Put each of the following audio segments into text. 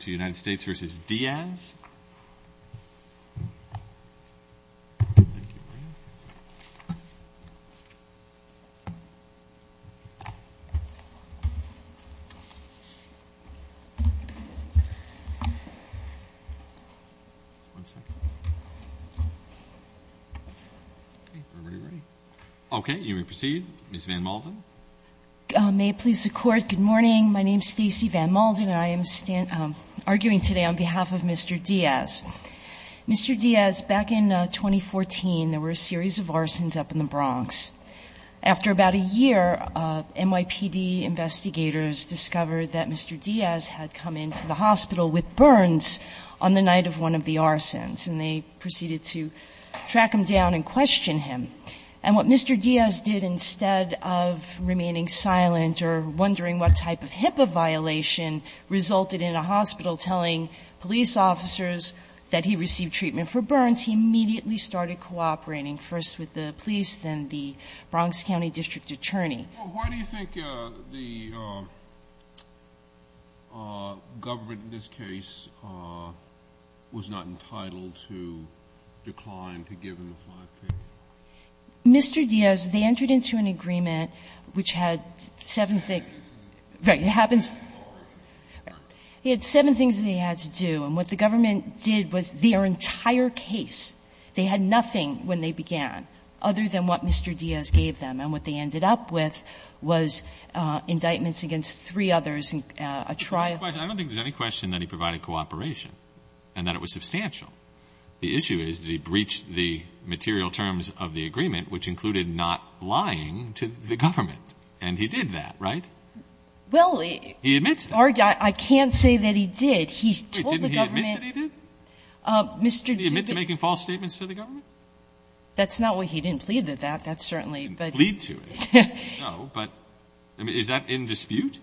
to United States v. Diaz. Okay, you may proceed. Ms. Van Malden. May it please the Court, good morning. My name is Stacey Van Malden, and I am arguing today on behalf of Mr. Diaz. Mr. Diaz, back in 2014, there were a series of arsons up in the Bronx. After about a year, NYPD investigators discovered that Mr. Diaz had come into the hospital with burns on the night of one of the arsons, and they proceeded to track him down and question him. And what Mr. Diaz did, instead of remaining silent or wondering what type of HIPAA violation resulted in a hospital telling police officers that he received treatment for burns, he immediately started cooperating, first with the police, then the Bronx County District Attorney. Why do you think the government, in this case, was not entitled to decline to give him the 5K? Mr. Diaz, they entered into an agreement which had seven things they had to do. And what the government did was their entire case, they had nothing when they began other than what Mr. Diaz gave them. And what they ended up with was indictments against three others, a trial. I don't think there's any question that he provided cooperation and that it was substantial. The issue is that he breached the material terms of the agreement, which included not lying to the government, and he did that, right? Well, he admits that. I can't say that he did. He told the government. Wait, didn't he admit that he did? Mr. Diaz did. Did he admit to making false statements to the government? That's not what he didn't plead to, that. That's certainly, but. He didn't plead to it. No, but is that in dispute?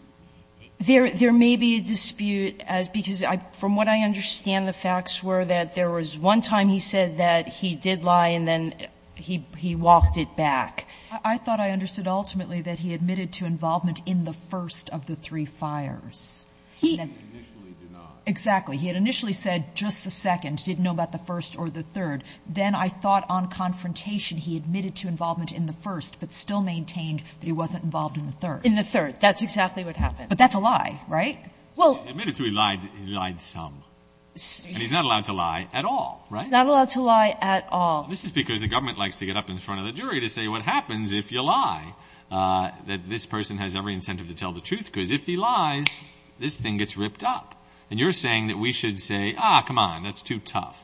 There may be a dispute, because from what I understand, the facts were that there was one time he said that he did lie and then he walked it back. I thought I understood ultimately that he admitted to involvement in the first of the three fires. He initially did not. Exactly. He had initially said just the second, didn't know about the first or the third. Then I thought on confrontation, he admitted to involvement in the first, but still maintained that he wasn't involved in the third. In the third. That's exactly what happened. But that's a lie, right? Well. He admitted to he lied. He lied some. And he's not allowed to lie at all, right? He's not allowed to lie at all. This is because the government likes to get up in front of the jury to say, what happens if you lie, that this person has every incentive to tell the truth? Because if he lies, this thing gets ripped up. And you're saying that we should say, ah, come on, that's too tough.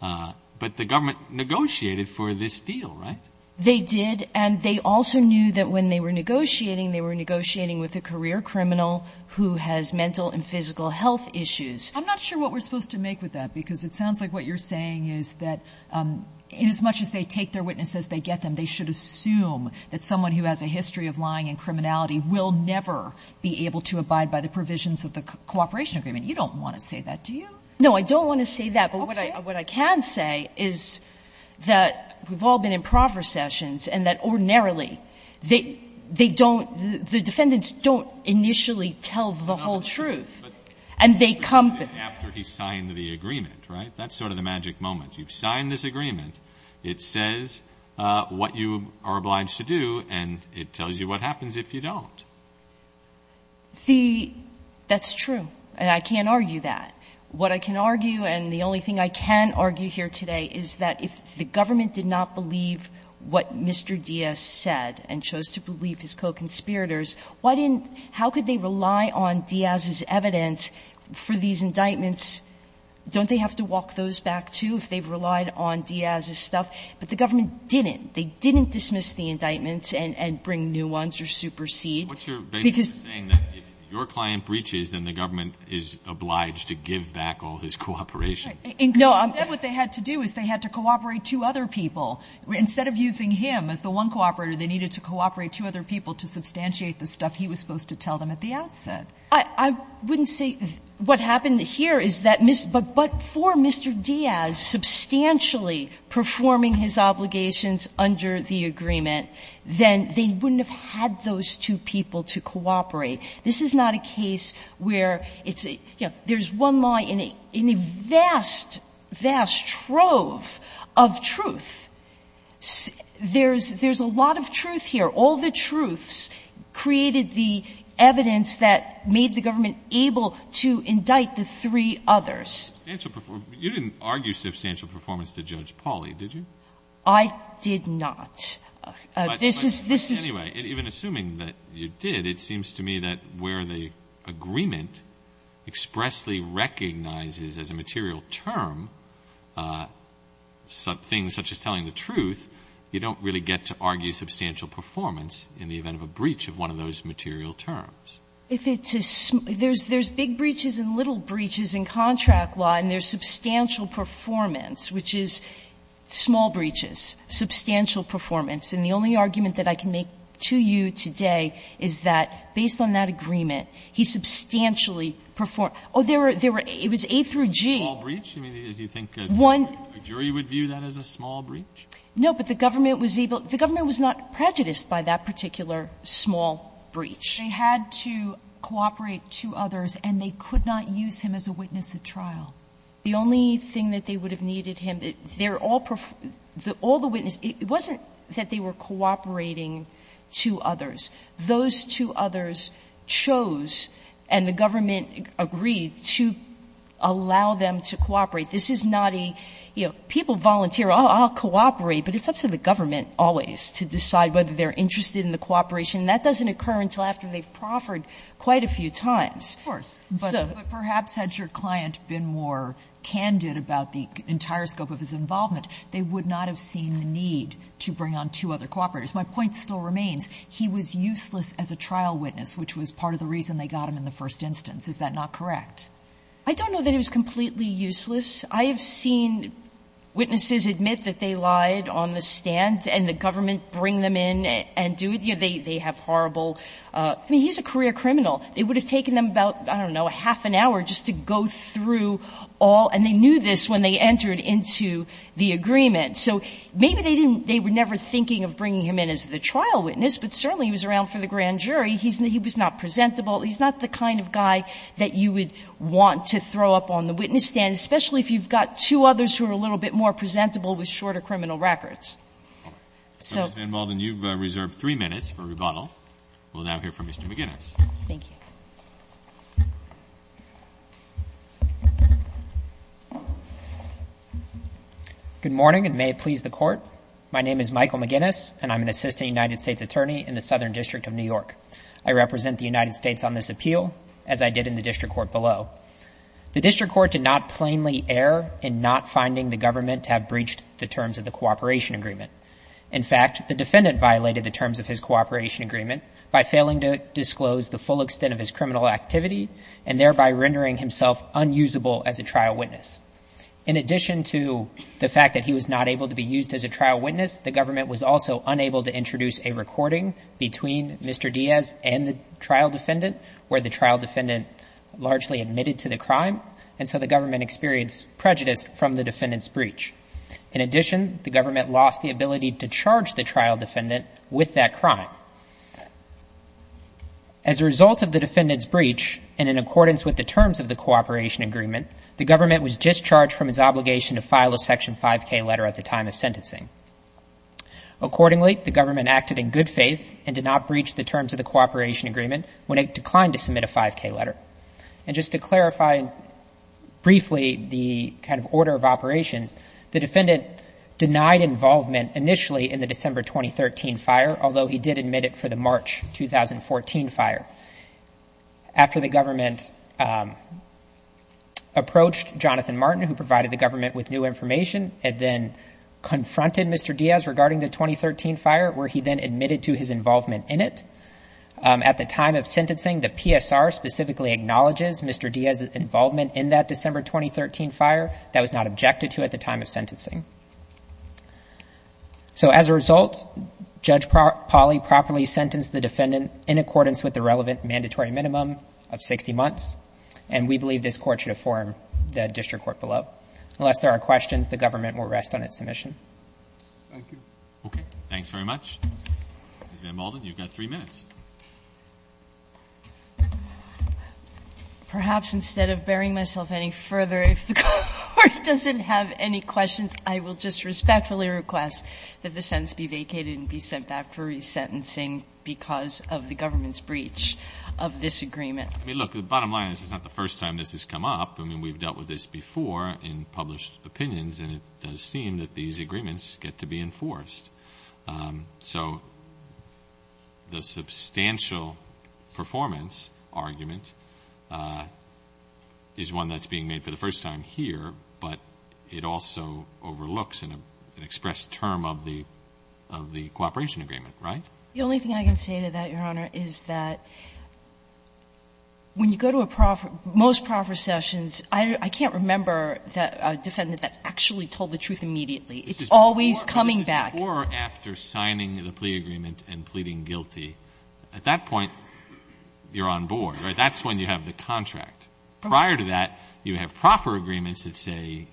But the government negotiated for this deal, right? They did. And they also knew that when they were negotiating, they were negotiating with a career criminal who has mental and physical health issues. I'm not sure what we're supposed to make with that, because it sounds like what you're saying is that in as much as they take their witnesses, they get them. They should assume that someone who has a history of lying and criminality will never be able to abide by the provisions of the cooperation agreement. You don't want to say that, do you? No, I don't want to say that. But what I can say is that we've all been in proffer sessions, and that ordinarily, they don't, the defendants don't initially tell the whole truth. And they come. But after he signed the agreement, right? That's sort of the magic moment. You've signed this agreement. It says what you are obliged to do, and it tells you what happens if you don't. The, that's true. And I can't argue that. What I can argue, and the only thing I can argue here today, is that if the government did not believe what Mr. Diaz said and chose to believe his co-conspirators, why didn't, how could they rely on Diaz's evidence for these indictments? Don't they have to walk those back, too, if they've relied on Diaz's stuff? But the government didn't. They didn't dismiss the indictments and bring new ones or supersede. Because. What you're basically saying is that if your client breaches, then the government is obliged to give back all his cooperation. No. Instead, what they had to do is they had to cooperate two other people. Instead of using him as the one cooperator, they needed to cooperate two other people to substantiate the stuff he was supposed to tell them at the outset. I wouldn't say, what happened here is that, but for Mr. Diaz substantially performing his obligations under the agreement, then they wouldn't have had those two people to cooperate. This is not a case where it's, you know, there's one lie in a vast, vast trove of truth. There's, there's a lot of truth here. All the truths created the evidence that made the government able to indict the three others. You didn't argue substantial performance to Judge Pauly, did you? I did not. This is, this is. Anyway, even assuming that you did, it seems to me that where the agreement expressly recognizes as a material term things such as telling the truth, you don't really get to argue substantial performance in the event of a breach of one of those material terms. If it's a, there's big breaches and little breaches in contract law, and there's substantial performance, which is small breaches, substantial performance. And the only argument that I can make to you today is that, based on that agreement, he substantially performed. Oh, there were, there were, it was A through G. Small breach? I mean, do you think a jury would view that as a small breach? No, but the government was able, the government was not prejudiced by that particular small breach. They had to cooperate two others, and they could not use him as a witness at trial. The only thing that they would have needed him, they're all, all the witnesses, it wasn't that they were cooperating two others. Those two others chose, and the government agreed, to allow them to cooperate. This is not a, you know, people volunteer, I'll cooperate, but it's up to the government always to decide whether they're interested in the cooperation, and that doesn't occur until after they've proffered quite a few times. Of course, but perhaps had your client been more candid about the entire scope of his deed to bring on two other cooperators. My point still remains, he was useless as a trial witness, which was part of the reason they got him in the first instance. Is that not correct? I don't know that he was completely useless. I have seen witnesses admit that they lied on the stand, and the government bring them in and do it. You know, they, they have horrible, I mean, he's a career criminal. It would have taken them about, I don't know, half an hour just to go through all, and they knew this when they entered into the agreement. So maybe they didn't, they were never thinking of bringing him in as the trial witness, but certainly he was around for the grand jury. He's not, he was not presentable. He's not the kind of guy that you would want to throw up on the witness stand, especially if you've got two others who are a little bit more presentable with shorter criminal records. So. Ms. Van Walden, you've reserved three minutes for rebuttal. We'll now hear from Mr. McGinnis. Thank you. Good morning, and may it please the court. My name is Michael McGinnis, and I'm an assistant United States attorney in the Southern District of New York. I represent the United States on this appeal, as I did in the district court below. The district court did not plainly err in not finding the government to have breached the terms of the cooperation agreement. In fact, the defendant violated the terms of his cooperation agreement by failing to disclose the full extent of his criminal activity, and thereby rendering himself unusable as a trial witness. In addition to the fact that he was not able to be used as a trial witness, the government was also unable to introduce a recording between Mr. Diaz and the trial defendant, where the trial defendant largely admitted to the crime, and so the government experienced prejudice from the defendant's breach. In addition, the government lost the ability to charge the trial defendant with that crime. As a result of the defendant's breach, and in accordance with the terms of the cooperation agreement, the government was discharged from its obligation to file a section 5K letter at the time of sentencing. Accordingly, the government acted in good faith and did not breach the terms of the cooperation agreement when it declined to submit a 5K letter. And just to clarify briefly the kind of order of operations, the defendant denied involvement initially in the December 2013 fire, although he did admit it for the March 2014 fire. After the government approached Jonathan Martin, who provided the government with new information, and then confronted Mr. Diaz regarding the 2013 fire, where he then admitted to his involvement in it. At the time of sentencing, the PSR specifically acknowledges Mr. Diaz's involvement in that December 2013 fire. That was not objected to at the time of sentencing. So as a result, Judge Polly properly sentenced the defendant in accordance with the relevant mandatory minimum of 60 months. And we believe this court should affirm the district court below. Unless there are questions, the government will rest on its submission. Thank you. Okay, thanks very much. Ms. Van Molden, you've got three minutes. Perhaps instead of burying myself any further, if the court doesn't have any questions, I will just respectfully request that the sentence be vacated and be sent back for re-sentencing because of the government's breach of this agreement. I mean, look, the bottom line is it's not the first time this has come up. I mean, we've dealt with this before in published opinions, and it does seem that these agreements get to be enforced. So the substantial performance argument is one that's being made for the first time here, but it also overlooks an expressed term of the cooperation agreement, right? The only thing I can say to that, Your Honor, is that when you go to a most proffer sessions, I can't remember a defendant that actually told the truth immediately. It's always coming back. Or after signing the plea agreement and pleading guilty, at that point, you're on board, right? That's when you have the contract. Prior to that, you have proffer agreements that say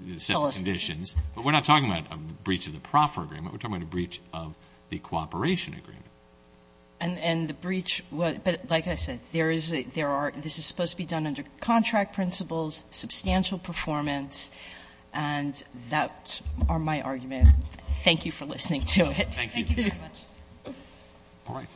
the set of conditions, but we're not talking about a breach of the proffer agreement, we're talking about a breach of the cooperation agreement. And the breach, but like I said, this is supposed to be done under contract principles, substantial performance, and that are my arguments. Thank you for listening to it. Thank you. Thank you very much. All right.